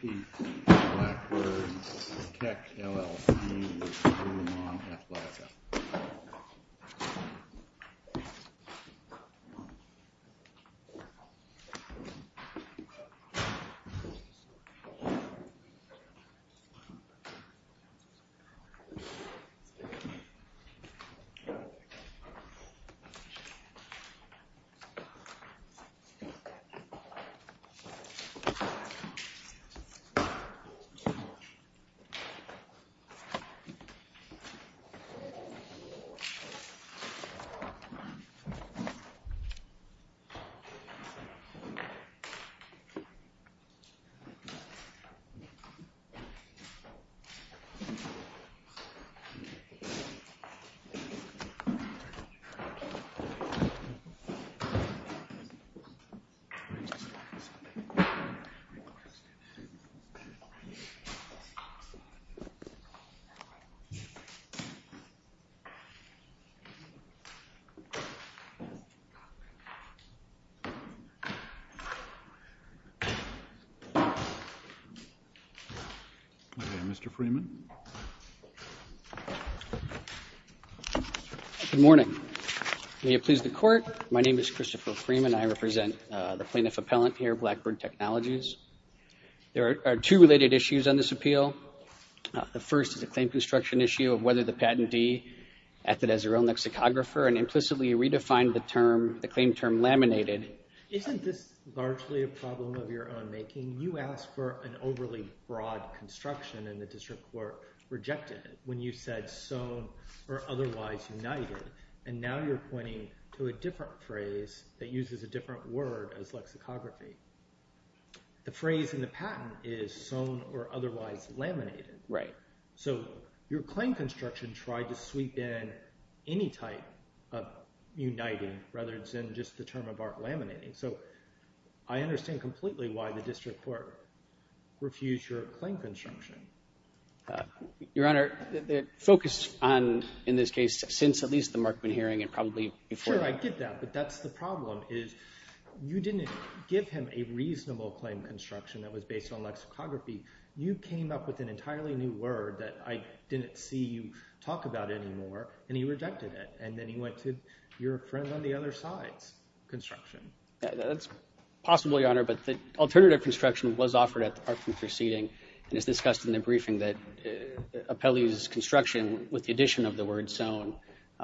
Pete Blackbird Tech LLC v. Lululemon Athletica. Pete Blackbird Tech LLC v. Lululemon Athletica, Inc. Mr. Freeman. Good morning. May it please the court. My name is Christopher Freeman. I represent the plaintiff appellant here Blackbird Technologies. There are two related issues on this appeal. The first is a claim construction issue of whether the patentee acted as their own lexicographer and implicitly redefined the claim term laminated. Isn't this largely a problem of your own making? You asked for an overly broad construction and the district court rejected it when you said sewn or otherwise laminated. And now you're pointing to a different phrase that uses a different word as lexicography. The phrase in the patent is sewn or otherwise laminated. Right. So your claim construction tried to sweep in any type of uniting rather than just the term of art laminating. So I understand completely why the district court refused your claim construction. Your Honor, the focus on in this case since at least the Markman hearing and probably before. I get that. But that's the problem is you didn't give him a reasonable claim construction that was based on lexicography. You came up with an entirely new word that I didn't see you talk about anymore. And he rejected it. And then he went to your friend on the other side's construction. That's possible, Your Honor. But the alternative construction was offered at the park from proceeding. And it's discussed in the briefing that Apelli's construction with the addition of the word sewn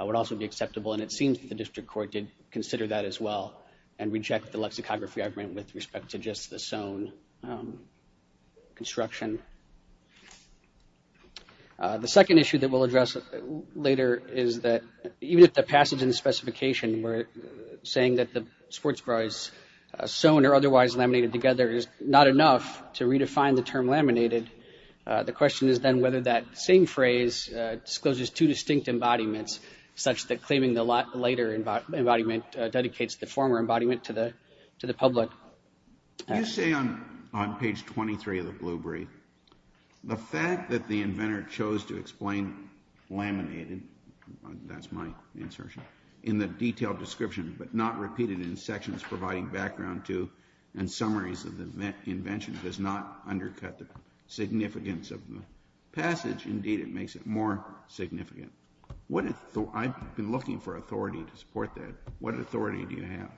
would also be acceptable. And it seems the district court did consider that as well and reject the lexicography agreement with respect to just the sewn construction. The second issue that we'll address later is that even if the passage and specification were saying that the sports bra is sewn or otherwise laminated together is not enough to redefine the term laminated. The question is then whether that same phrase discloses two distinct embodiments such that claiming the later embodiment dedicates the former embodiment to the to the public. You say on page 23 of the Blueberry, the fact that the inventor chose to explain laminated – that's my insertion – in the detailed description but not repeated in sections providing background to and summaries of the invention does not undercut the significance of the passage. Indeed, it makes it more significant. I've been looking for authority to support that. What authority do you have?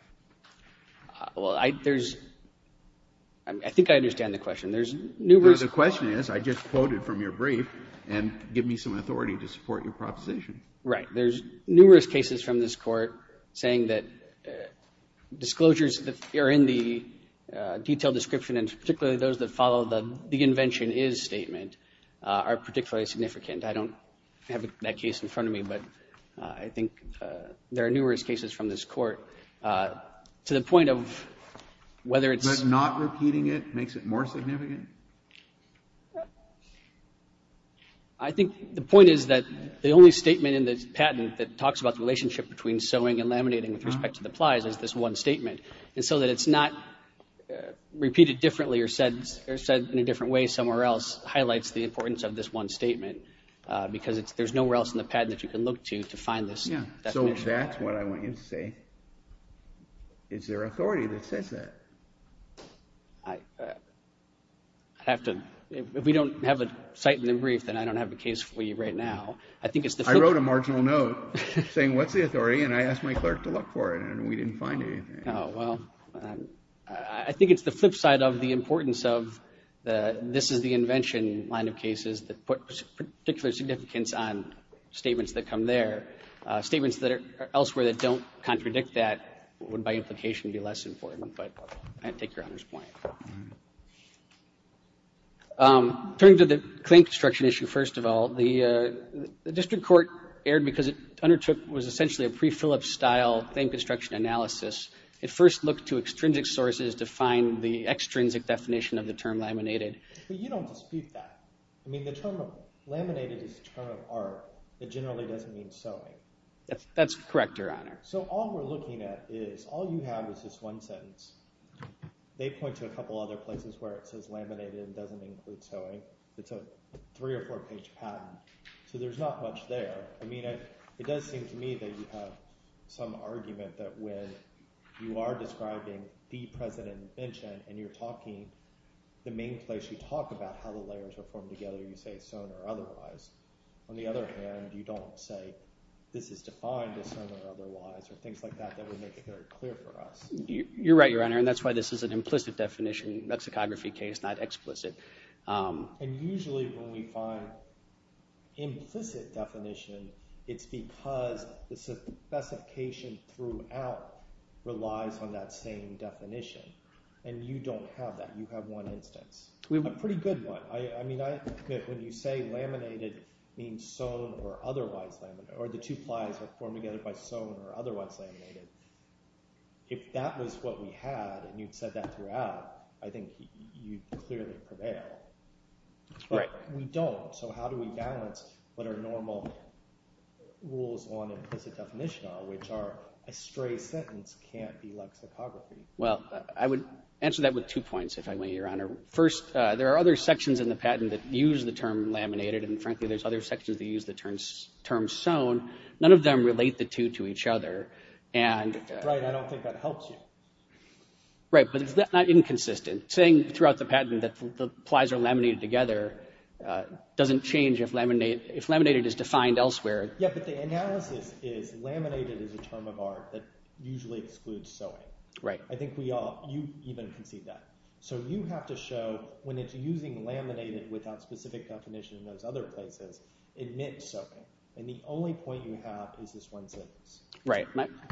Well, I think I understand the question. The question is I just quoted from your brief and give me some authority to support your proposition. Right. There's numerous cases from this court saying that disclosures that are in the detailed description and particularly those that follow the invention is statement are particularly significant. I don't have that case in front of me, but I think there are numerous cases from this court to the point of whether it's – But not repeating it makes it more significant? I think the point is that the only statement in this patent that talks about the relationship between sewing and laminating with respect to the plies is this one statement. And so that it's not repeated differently or said in a different way somewhere else highlights the importance of this one statement because there's nowhere else in the patent that you can look to to find this definition. So that's what I want you to say. Is there authority that says that? I have to – if we don't have a site in the brief, then I don't have a case for you right now. I wrote a marginal note saying what's the authority, and I asked my clerk to look for it, and we didn't find anything. Oh, well, I think it's the flip side of the importance of this is the invention line of cases that put particular significance on statements that come there. Statements that are elsewhere that don't contradict that would, by implication, be less important, but I take Your Honor's point. Turning to the claim construction issue, first of all, the district court erred because it undertook what was essentially a pre-Phillips-style claim construction analysis. It first looked to extrinsic sources to find the extrinsic definition of the term laminated. But you don't dispute that. I mean the term laminated is a term of art that generally doesn't mean sewing. That's correct, Your Honor. So all we're looking at is – all you have is this one sentence. They point to a couple other places where it says laminated and doesn't include sewing. It's a three- or four-page patent, so there's not much there. I mean it does seem to me that you have some argument that when you are describing the present invention and you're talking – the main place you talk about how the layers are formed together, you say sewn or otherwise. On the other hand, you don't say this is defined as sewn or otherwise or things like that that would make it very clear for us. You're right, Your Honor, and that's why this is an implicit definition, mexicography case, not explicit. And usually when we find implicit definition, it's because the specification throughout relies on that same definition, and you don't have that. You have one instance, a pretty good one. I mean when you say laminated means sewn or otherwise – or the two plies are formed together by sewn or otherwise laminated, if that was what we had and you'd said that throughout, I think you'd clearly prevail. Right. But we don't, so how do we balance what are normal rules on implicit definition, which are a stray sentence can't be lexicography? Well, I would answer that with two points, if I may, Your Honor. First, there are other sections in the patent that use the term laminated, and frankly there's other sections that use the term sewn. None of them relate the two to each other. Right, I don't think that helps you. Right, but it's not inconsistent. Saying throughout the patent that the plies are laminated together doesn't change if laminated is defined elsewhere. Yeah, but the analysis is laminated is a term of art that usually excludes sewing. Right. I think you even concede that. So you have to show when it's using laminated without specific definition in those other places, admit sewing. And the only point you have is this one sentence. Right.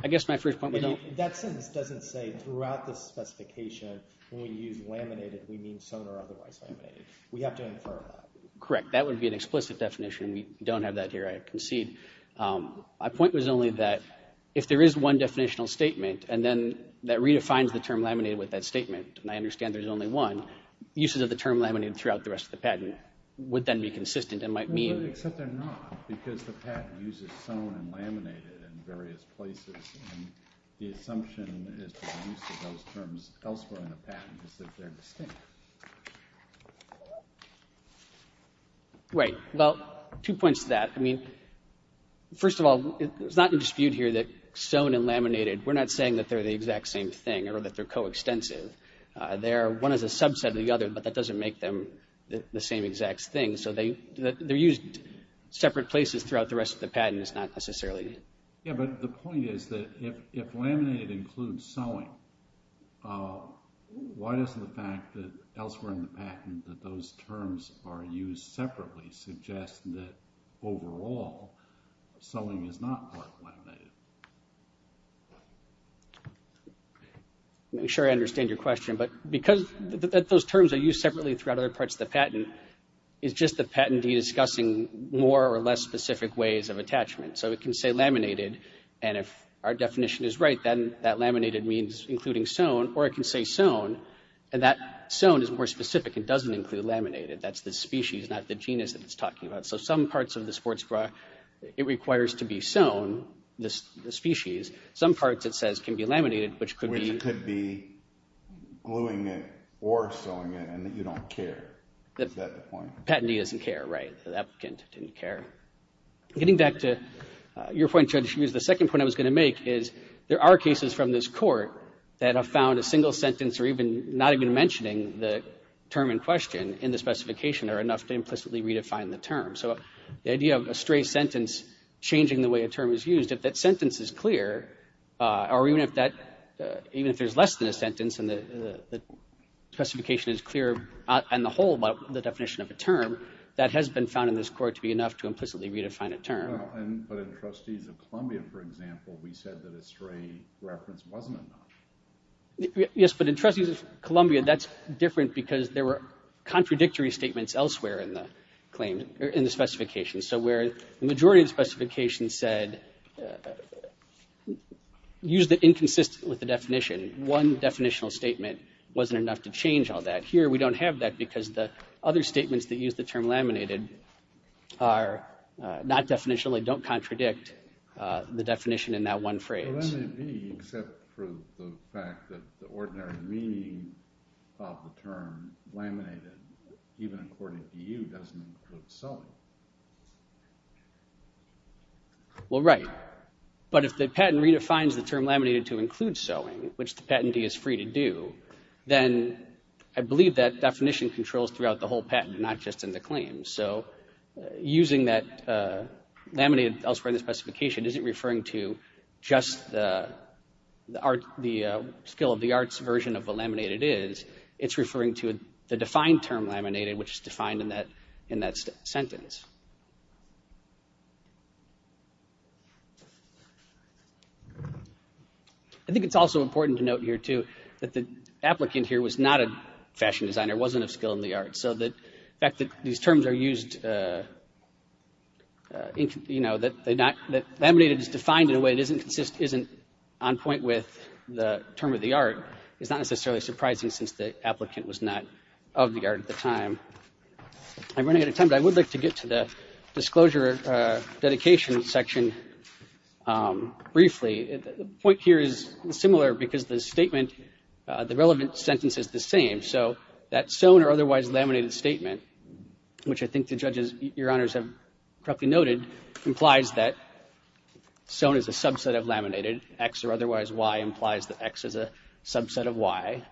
I guess my first point would be – That sentence doesn't say throughout the specification when we use laminated we mean sewn or otherwise laminated. We have to infer that. Correct. That would be an explicit definition. We don't have that here, I concede. My point was only that if there is one definitional statement and then that redefines the term laminated with that statement, and I understand there's only one, uses of the term laminated throughout the rest of the patent would then be consistent and might mean – Except they're not, because the patent uses sewn and laminated in various places, and the assumption is that the use of those terms elsewhere in the patent is that they're distinct. Right. Well, two points to that. I mean, first of all, it's not in dispute here that sewn and laminated, we're not saying that they're the exact same thing or that they're coextensive. They're – one is a subset of the other, but that doesn't make them the same exact thing. So they're used separate places throughout the rest of the patent. It's not necessarily – Yeah, but the point is that if laminated includes sewing, why doesn't the fact that elsewhere in the patent that those terms are used separately suggest that overall, sewing is not part of laminated? I'm sure I understand your question, but because those terms are used separately throughout other parts of the patent, it's just the patentee discussing more or less specific ways of attachment. So it can say laminated, and if our definition is right, then that laminated means including sewn, or it can say sewn, and that sewn is more specific. It doesn't include laminated. That's the species, not the genus that it's talking about. So some parts of the sports bra, it requires to be sewn, the species. Some parts, it says, can be laminated, which could be – Which could be gluing it or sewing it, and you don't care. Is that the point? The patentee doesn't care, right. The applicant didn't care. Getting back to your point, Judge Hughes, the second point I was going to make is there are cases from this court that have found a single sentence or even not even mentioning the term in question in the specification are enough to implicitly redefine the term. So the idea of a stray sentence changing the way a term is used, if that sentence is clear, or even if there's less than a sentence and the specification is clear on the whole about the definition of a term, that has been found in this court to be enough to implicitly redefine a term. But in Trustees of Columbia, for example, we said that a stray reference wasn't enough. Yes, but in Trustees of Columbia, that's different because there were contradictory statements elsewhere in the claim, in the specification. So where the majority of the specification said, use the inconsistent with the definition. One definitional statement wasn't enough to change all that. Here, we don't have that because the other statements that use the term laminated are not definitional. They don't contradict the definition in that one phrase. Well, that may be, except for the fact that the ordinary meaning of the term laminated, even according to you, doesn't include sewing. Well, right. But if the patent redefines the term laminated to include sewing, which the patentee is free to do, then I believe that definition controls throughout the whole patent, not just in the claim. So using that laminated elsewhere in the specification isn't referring to just the skill of the arts version of what laminated is. It's referring to the defined term laminated, which is defined in that sentence. I think it's also important to note here, too, that the applicant here was not a fashion designer, wasn't a skill in the arts. So the fact that these terms are used, you know, that laminated is defined in a way that isn't on point with the term of the art, is not necessarily surprising since the applicant was not of the art at the time. I'm running out of time, but I would like to get to the disclosure dedication section briefly. The point here is similar because the statement, the relevant sentence is the same. So that sewn or otherwise laminated statement, which I think the judges, Your Honors, have correctly noted, implies that sewn is a subset of laminated. X or otherwise Y implies that X is a subset of Y.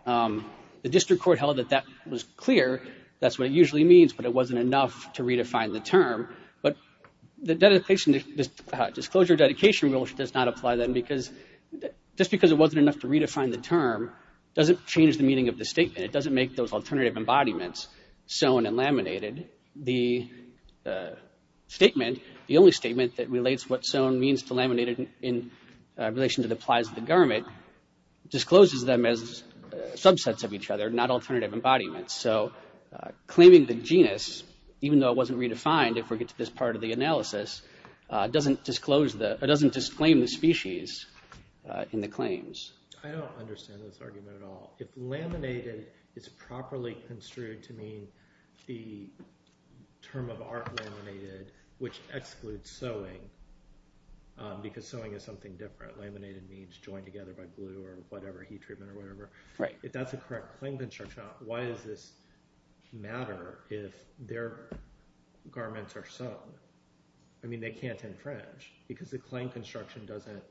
The district court held that that was clear. That's what it usually means, but it wasn't enough to redefine the term. But the disclosure dedication rule does not apply then because just because it wasn't enough to redefine the term doesn't change the meaning of the statement. It doesn't make those alternative embodiments sewn and laminated. The statement, the only statement that relates what sewn means to laminated in relation to the plies of the garment, discloses them as subsets of each other, not alternative embodiments. So claiming the genus, even though it wasn't redefined if we get to this part of the analysis, doesn't disclaim the species in the claims. I don't understand this argument at all. If laminated is properly construed to mean the term of art laminated, which excludes sewing because sewing is something different. Laminated means joined together by glue or whatever, heat treatment or whatever. If that's a correct claim construction, why does this matter if their garments are sewn? I mean, they can't infringe because the claim construction doesn't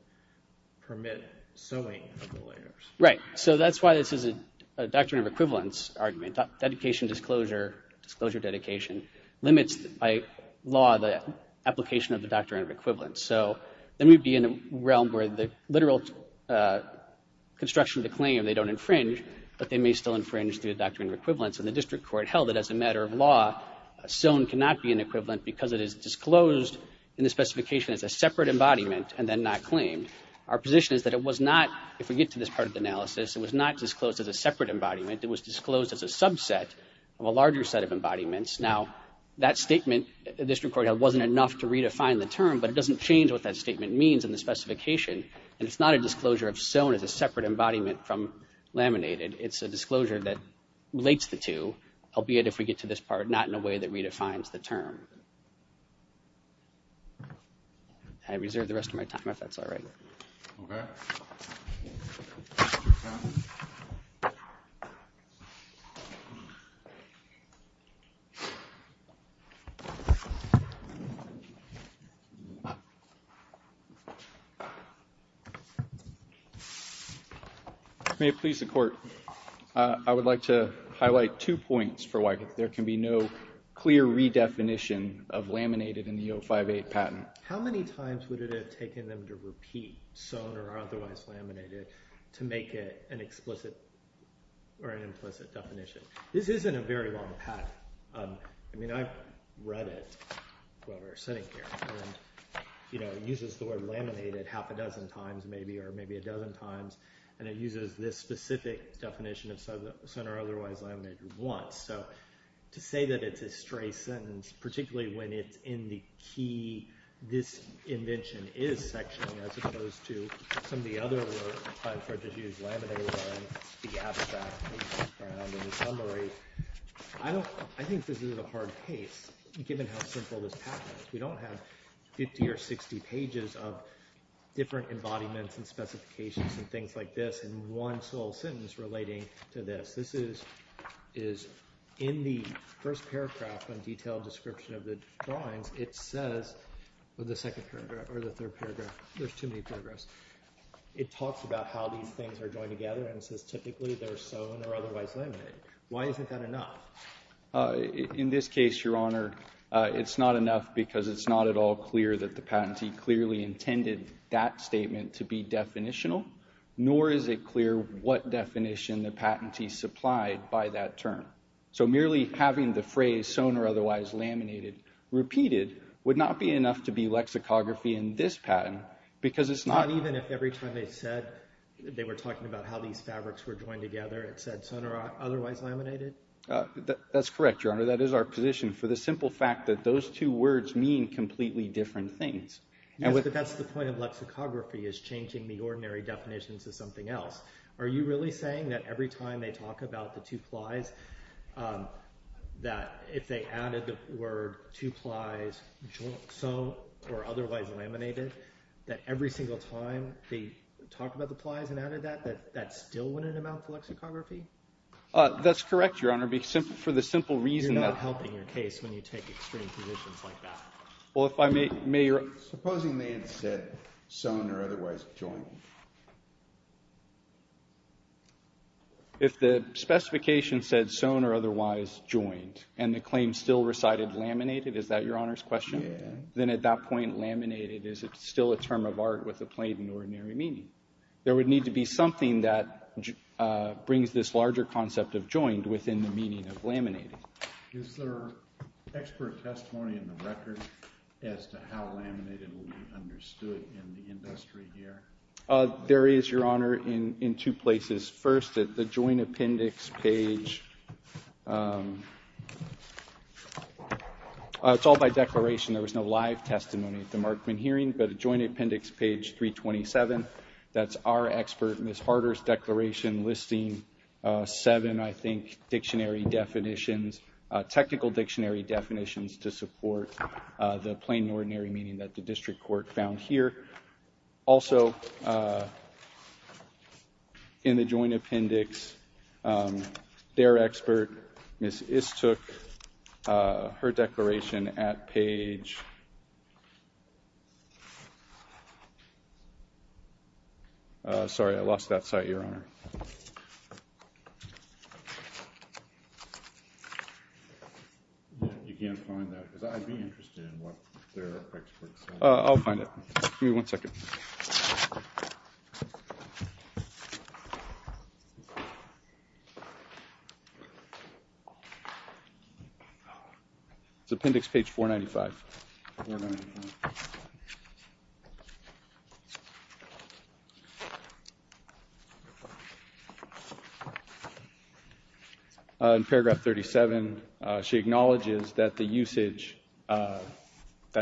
permit sewing of the layers. Right. So that's why this is a doctrine of equivalence argument. Dedication disclosure, disclosure dedication limits by law the application of the doctrine of equivalence. So then we'd be in a realm where the literal construction of the claim, they don't infringe, but they may still infringe the doctrine of equivalence. And the district court held it as a matter of law. Sewn cannot be an equivalent because it is disclosed in the specification as a separate embodiment and then not claimed. Our position is that it was not, if we get to this part of the analysis, it was not disclosed as a separate embodiment. It was disclosed as a subset of a larger set of embodiments. Now, that statement, this record wasn't enough to redefine the term, but it doesn't change what that statement means in the specification. And it's not a disclosure of sewn as a separate embodiment from laminated. It's a disclosure that relates the two, albeit if we get to this part, not in a way that redefines the term. I reserve the rest of my time if that's all right. May it please the court. I would like to highlight two points for why there can be no clear redefinition of laminated in the 058 patent. How many times would it have taken them to repeat sewn or otherwise laminated to make it an explicit or an implicit definition? This isn't a very long patent. I mean, I've read it while we were sitting here. It uses the word laminated half a dozen times maybe or maybe a dozen times. And it uses this specific definition of sewn or otherwise laminated once. So to say that it's a stray sentence, particularly when it's in the key, this invention is sectioning as opposed to some of the other words, such as laminated line, the abstract. In summary, I think this is a hard case given how simple this patent is. We don't have 50 or 60 pages of different embodiments and specifications and things like this in one sole sentence relating to this. This is in the first paragraph on detailed description of the drawings. It says, or the second paragraph or the third paragraph, there's too many paragraphs. It talks about how these things are joined together and says typically they're sewn or otherwise laminated. Why isn't that enough? In this case, Your Honor, it's not enough because it's not at all clear that the patentee clearly intended that statement to be definitional, nor is it clear what definition the patentee supplied by that term. So merely having the phrase sewn or otherwise laminated repeated would not be enough to be lexicography in this patent because it's not... Not even if every time they said they were talking about how these fabrics were joined together, it said sewn or otherwise laminated? That's correct, Your Honor. That is our position for the simple fact that those two words mean completely different things. Yes, but that's the point of lexicography is changing the ordinary definitions of something else. Are you really saying that every time they talk about the two plies, that if they added the word two plies sewn or otherwise laminated, that every single time they talk about the plies and added that, that that still wouldn't amount to lexicography? That's correct, Your Honor, for the simple reason that... You're not helping your case when you take extreme positions like that. Supposing they had said sewn or otherwise joined? If the specification said sewn or otherwise joined and the claim still recited laminated, is that Your Honor's question? Then at that point, laminated is still a term of art with a plain and ordinary meaning. There would need to be something that brings this larger concept of joined within the meaning of laminated. Is there expert testimony in the record as to how laminated will be understood in the industry here? There is, Your Honor, in two places. First, at the joint appendix page, it's all by declaration. There was no live testimony at the Markman hearing, but at joint appendix page 327, that's our expert, Ms. Harder's declaration listing seven, I think, dictionary definitions, technical dictionary definitions to support the plain and ordinary meaning that the district court found here. Also in the joint appendix, their expert, Ms. Istook, her declaration at page... Sorry, I lost that site, Your Honor. You can't find that because I'd be interested in what their expert said. I'll find it. Give me one second. It's appendix page 495. 495. In paragraph 37, she acknowledges that the usage, that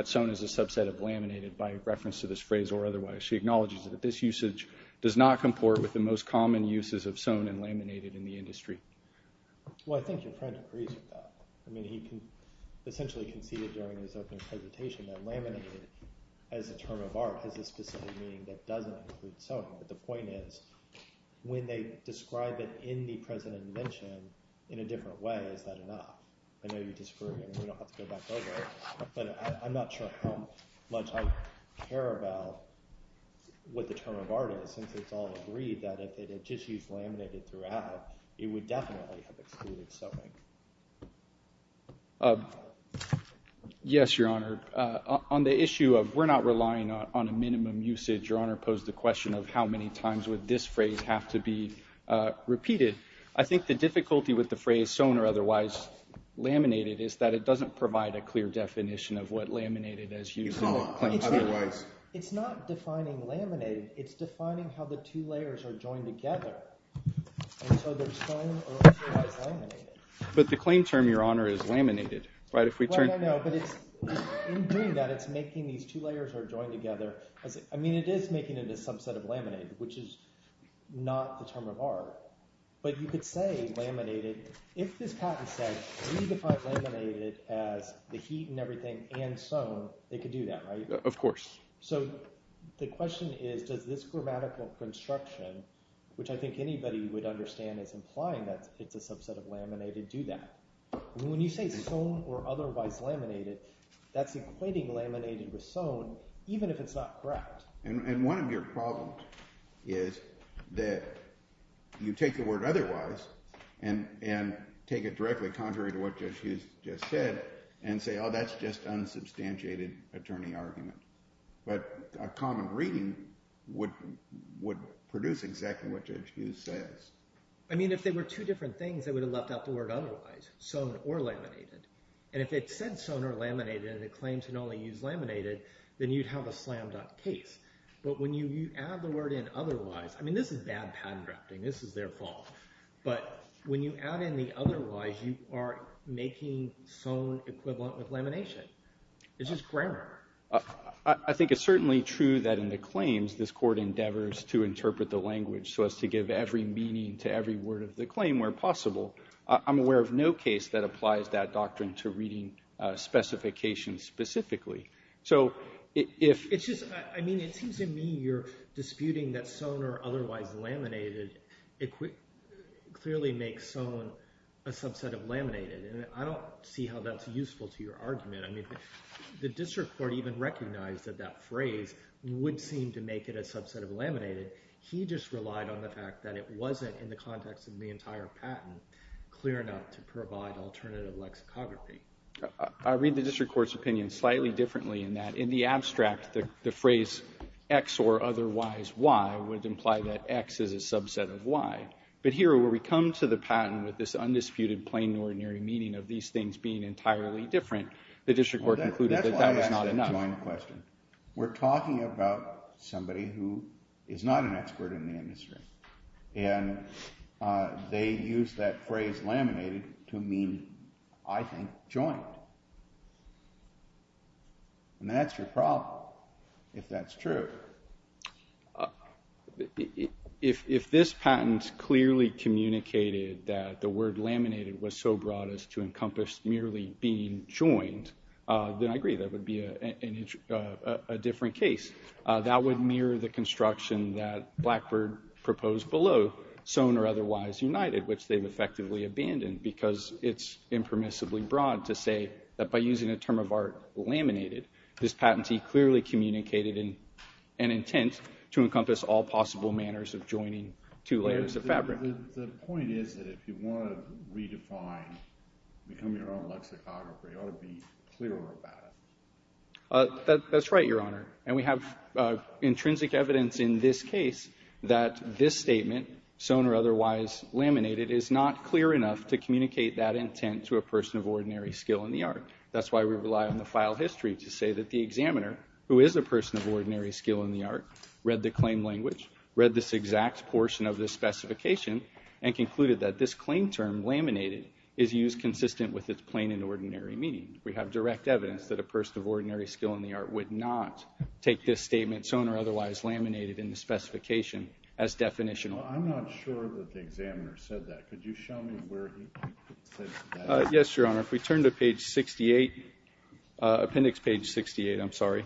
sewn is a subset of laminated by reference to this phrase or otherwise. She acknowledges that this usage does not comport with the most common uses of sewn and laminated in the industry. Well, I think your friend agrees with that. I mean, he essentially conceded during his opening presentation that laminated as a term of art has a specific meaning that doesn't include sewn, but the point is when they describe it in the present invention in a different way, is that enough? I know you disagree, and we don't have to go back over it, but I'm not sure how much I care about what the term of art is since it's all agreed that if it had just used laminated throughout, it would definitely have excluded sewing. Yes, Your Honor, on the issue of we're not relying on a minimum usage, Your Honor posed the question of how many times would this phrase have to be repeated? I think the difficulty with the phrase sewn or otherwise laminated is that it doesn't provide a clear definition of what laminated is used. It's not defining laminated. It's defining how the two layers are joined together, and so there's sewn or otherwise laminated. But the claim term, Your Honor, is laminated, right? Well, I know, but in doing that, it's making these two layers are joined together. I mean it is making it a subset of laminated, which is not the term of art, but you could say laminated. If this patent says we define laminated as the heat and everything and sewn, they could do that, right? Of course. So the question is does this grammatical construction, which I think anybody would understand as implying that it's a subset of laminated, do that? When you say sewn or otherwise laminated, that's equating laminated with sewn even if it's not correct. And one of your problems is that you take the word otherwise and take it directly contrary to what Judge Hughes just said and say, oh, that's just unsubstantiated attorney argument. But a common reading would produce exactly what Judge Hughes says. I mean if they were two different things, they would have left out the word otherwise, sewn or laminated. And if it said sewn or laminated and it claims to only use laminated, then you'd have a slammed up case. But when you add the word in otherwise, I mean this is bad patent drafting. This is their fault. But when you add in the otherwise, you are making sewn equivalent with lamination. It's just grammar. I think it's certainly true that in the claims this court endeavors to interpret the language so as to give every meaning to every word of the claim where possible. I'm aware of no case that applies that doctrine to reading specifications specifically. So if – It's just – I mean it seems to me you're disputing that sewn or otherwise laminated clearly makes sewn a subset of laminated. And I don't see how that's useful to your argument. I mean the district court even recognized that that phrase would seem to make it a subset of laminated. He just relied on the fact that it wasn't in the context of the entire patent clear enough to provide alternative lexicography. I read the district court's opinion slightly differently in that in the abstract, the phrase X or otherwise Y would imply that X is a subset of Y. But here where we come to the patent with this undisputed plain and ordinary meaning of these things being entirely different, the district court concluded that that was not enough. That's why I asked the joint question. We're talking about somebody who is not an expert in the industry. And they used that phrase laminated to mean, I think, joint. And that's your problem if that's true. If this patent clearly communicated that the word laminated was so broad as to encompass merely being joined, then I agree that would be a different case. That would mirror the construction that Blackbird proposed below, sewn or otherwise united, which they've effectively abandoned because it's impermissibly broad to say that by using a term of art, laminated, this patentee clearly communicated an intent to encompass all possible manners of joining two layers of fabric. The point is that if you want to redefine, become your own lexicographer, you ought to be clearer about it. That's right, Your Honor. And we have intrinsic evidence in this case that this statement, sewn or otherwise laminated, is not clear enough to communicate that intent to a person of ordinary skill in the art. That's why we rely on the file history to say that the examiner, who is a person of ordinary skill in the art, read the claim language, read this exact portion of the specification, and concluded that this claim term, laminated, is used consistent with its plain and ordinary meaning. We have direct evidence that a person of ordinary skill in the art would not take this statement, sewn or otherwise laminated, in the specification as definitional. I'm not sure that the examiner said that. Could you show me where he said that? Yes, Your Honor. If we turn to page 68, appendix page 68, I'm sorry.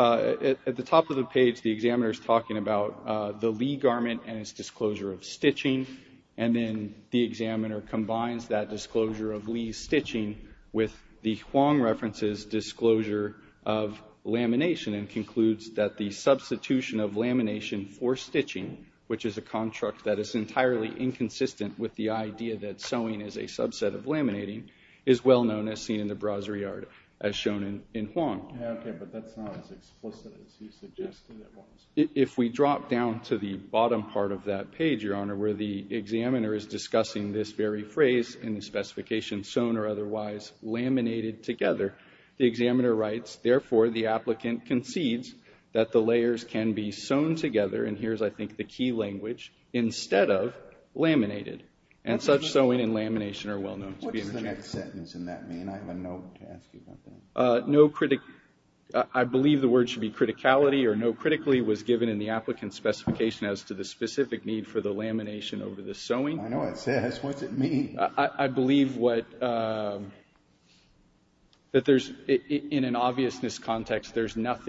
At the top of the page, the examiner is talking about the Lee garment and its disclosure of stitching. And then the examiner combines that disclosure of Lee's stitching with the Huang reference's disclosure of lamination and concludes that the substitution of lamination for stitching, which is a contract that is entirely inconsistent with the idea that sewing is a subset of laminating, is well known as seen in the brasserie art, as shown in Huang. Okay, but that's not as explicit as he suggested it was. If we drop down to the bottom part of that page, Your Honor, where the examiner is discussing this very phrase in the specification, sewn or otherwise laminated together, the examiner writes, therefore, the applicant concedes that the layers can be sewn together, and here's, I think, the key language, instead of laminated. And such sewing and lamination are well known to be interchangeable. What does the next sentence in that mean? I have a note to ask you about that. I believe the word should be criticality or no critically was given in the applicant's specification as to the specific need for the lamination over the sewing. I know it says. What's it mean? I believe that in an obviousness context, there's no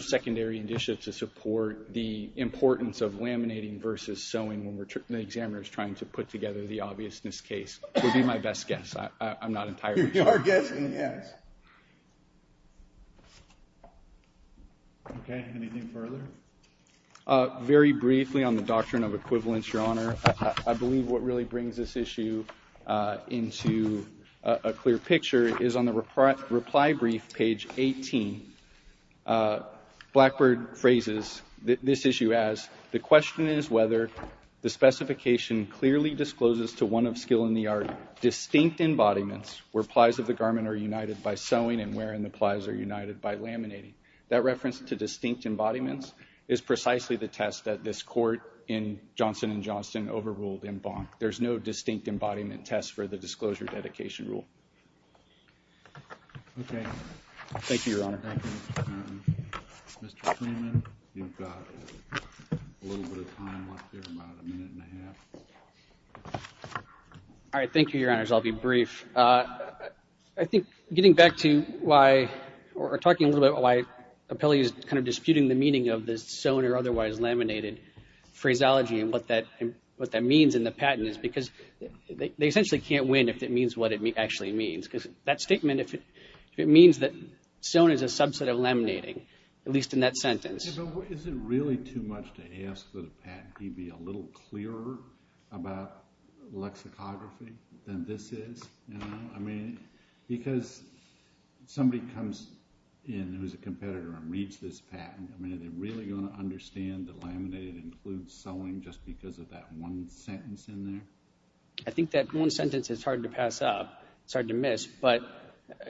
secondary initiative to support the importance of laminating versus sewing when the examiner is trying to put together the obviousness case. It would be my best guess. I'm not entirely sure. You are guessing, yes. Okay. Anything further? Very briefly on the doctrine of equivalence, Your Honor. I believe what really brings this issue into a clear picture is on the reply brief, page 18, Blackbird phrases this issue as, The question is whether the specification clearly discloses to one of skill in the art distinct embodiments where plies of the garment are united by sewing and wherein the plies are united by laminating. That reference to distinct embodiments is precisely the test that this court in Johnson & Johnson overruled in Bonk. There's no distinct embodiment test for the disclosure dedication rule. Thank you, Your Honor. Mr. Freeman, you've got a little bit of time left here, about a minute and a half. All right. Thank you, Your Honors. I'll be brief. I think getting back to why, or talking a little bit about why appellees kind of disputing the meaning of this sewn or otherwise laminated phraseology and what that means in the patent is because they essentially can't win if it means what it actually means. Because that statement, if it means that sewn is a subset of laminating, at least in that sentence. Is it really too much to ask that a patent be a little clearer about lexicography than this is? I mean, because somebody comes in who's a competitor and reads this patent, I mean, are they really going to understand that laminated includes sewing just because of that one sentence in there? I think that one sentence is hard to pass up, it's hard to miss, but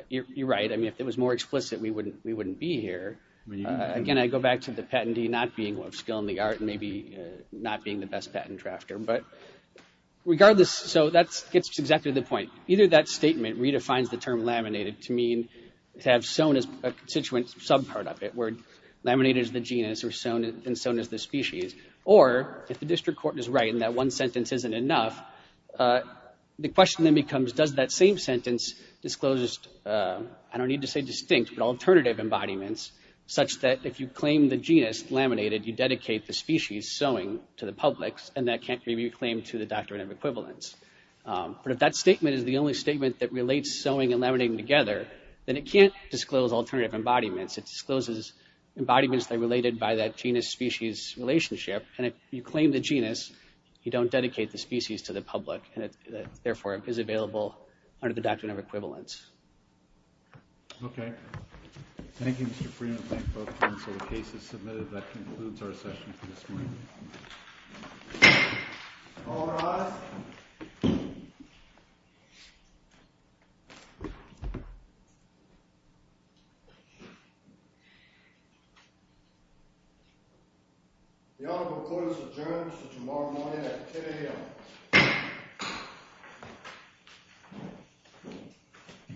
you're right. I mean, if it was more explicit, we wouldn't be here. Again, I go back to the patentee not being of skill in the art and maybe not being the best patent drafter. But regardless, so that gets to exactly the point. Either that statement redefines the term laminated to mean to have sewn as a constituent subpart of it, where laminated is the genus and sewn is the species. Or, if the district court is right and that one sentence isn't enough, the question then becomes, does that same sentence disclose, I don't need to say distinct, but alternative embodiments, such that if you claim the genus laminated, you dedicate the species sewing to the public and that can't be reclaimed to the doctrine of equivalence. But if that statement is the only statement that relates sewing and laminating together, then it can't disclose alternative embodiments. It discloses embodiments that are related by that genus-species relationship. And if you claim the genus, you don't dedicate the species to the public. And it, therefore, is available under the doctrine of equivalence. Okay. Thank you, Mr. Freeman. Thank both counsel. The case is submitted. That concludes our session for this morning. All rise. The Honorable Court is adjourned until tomorrow morning at 10 a.m.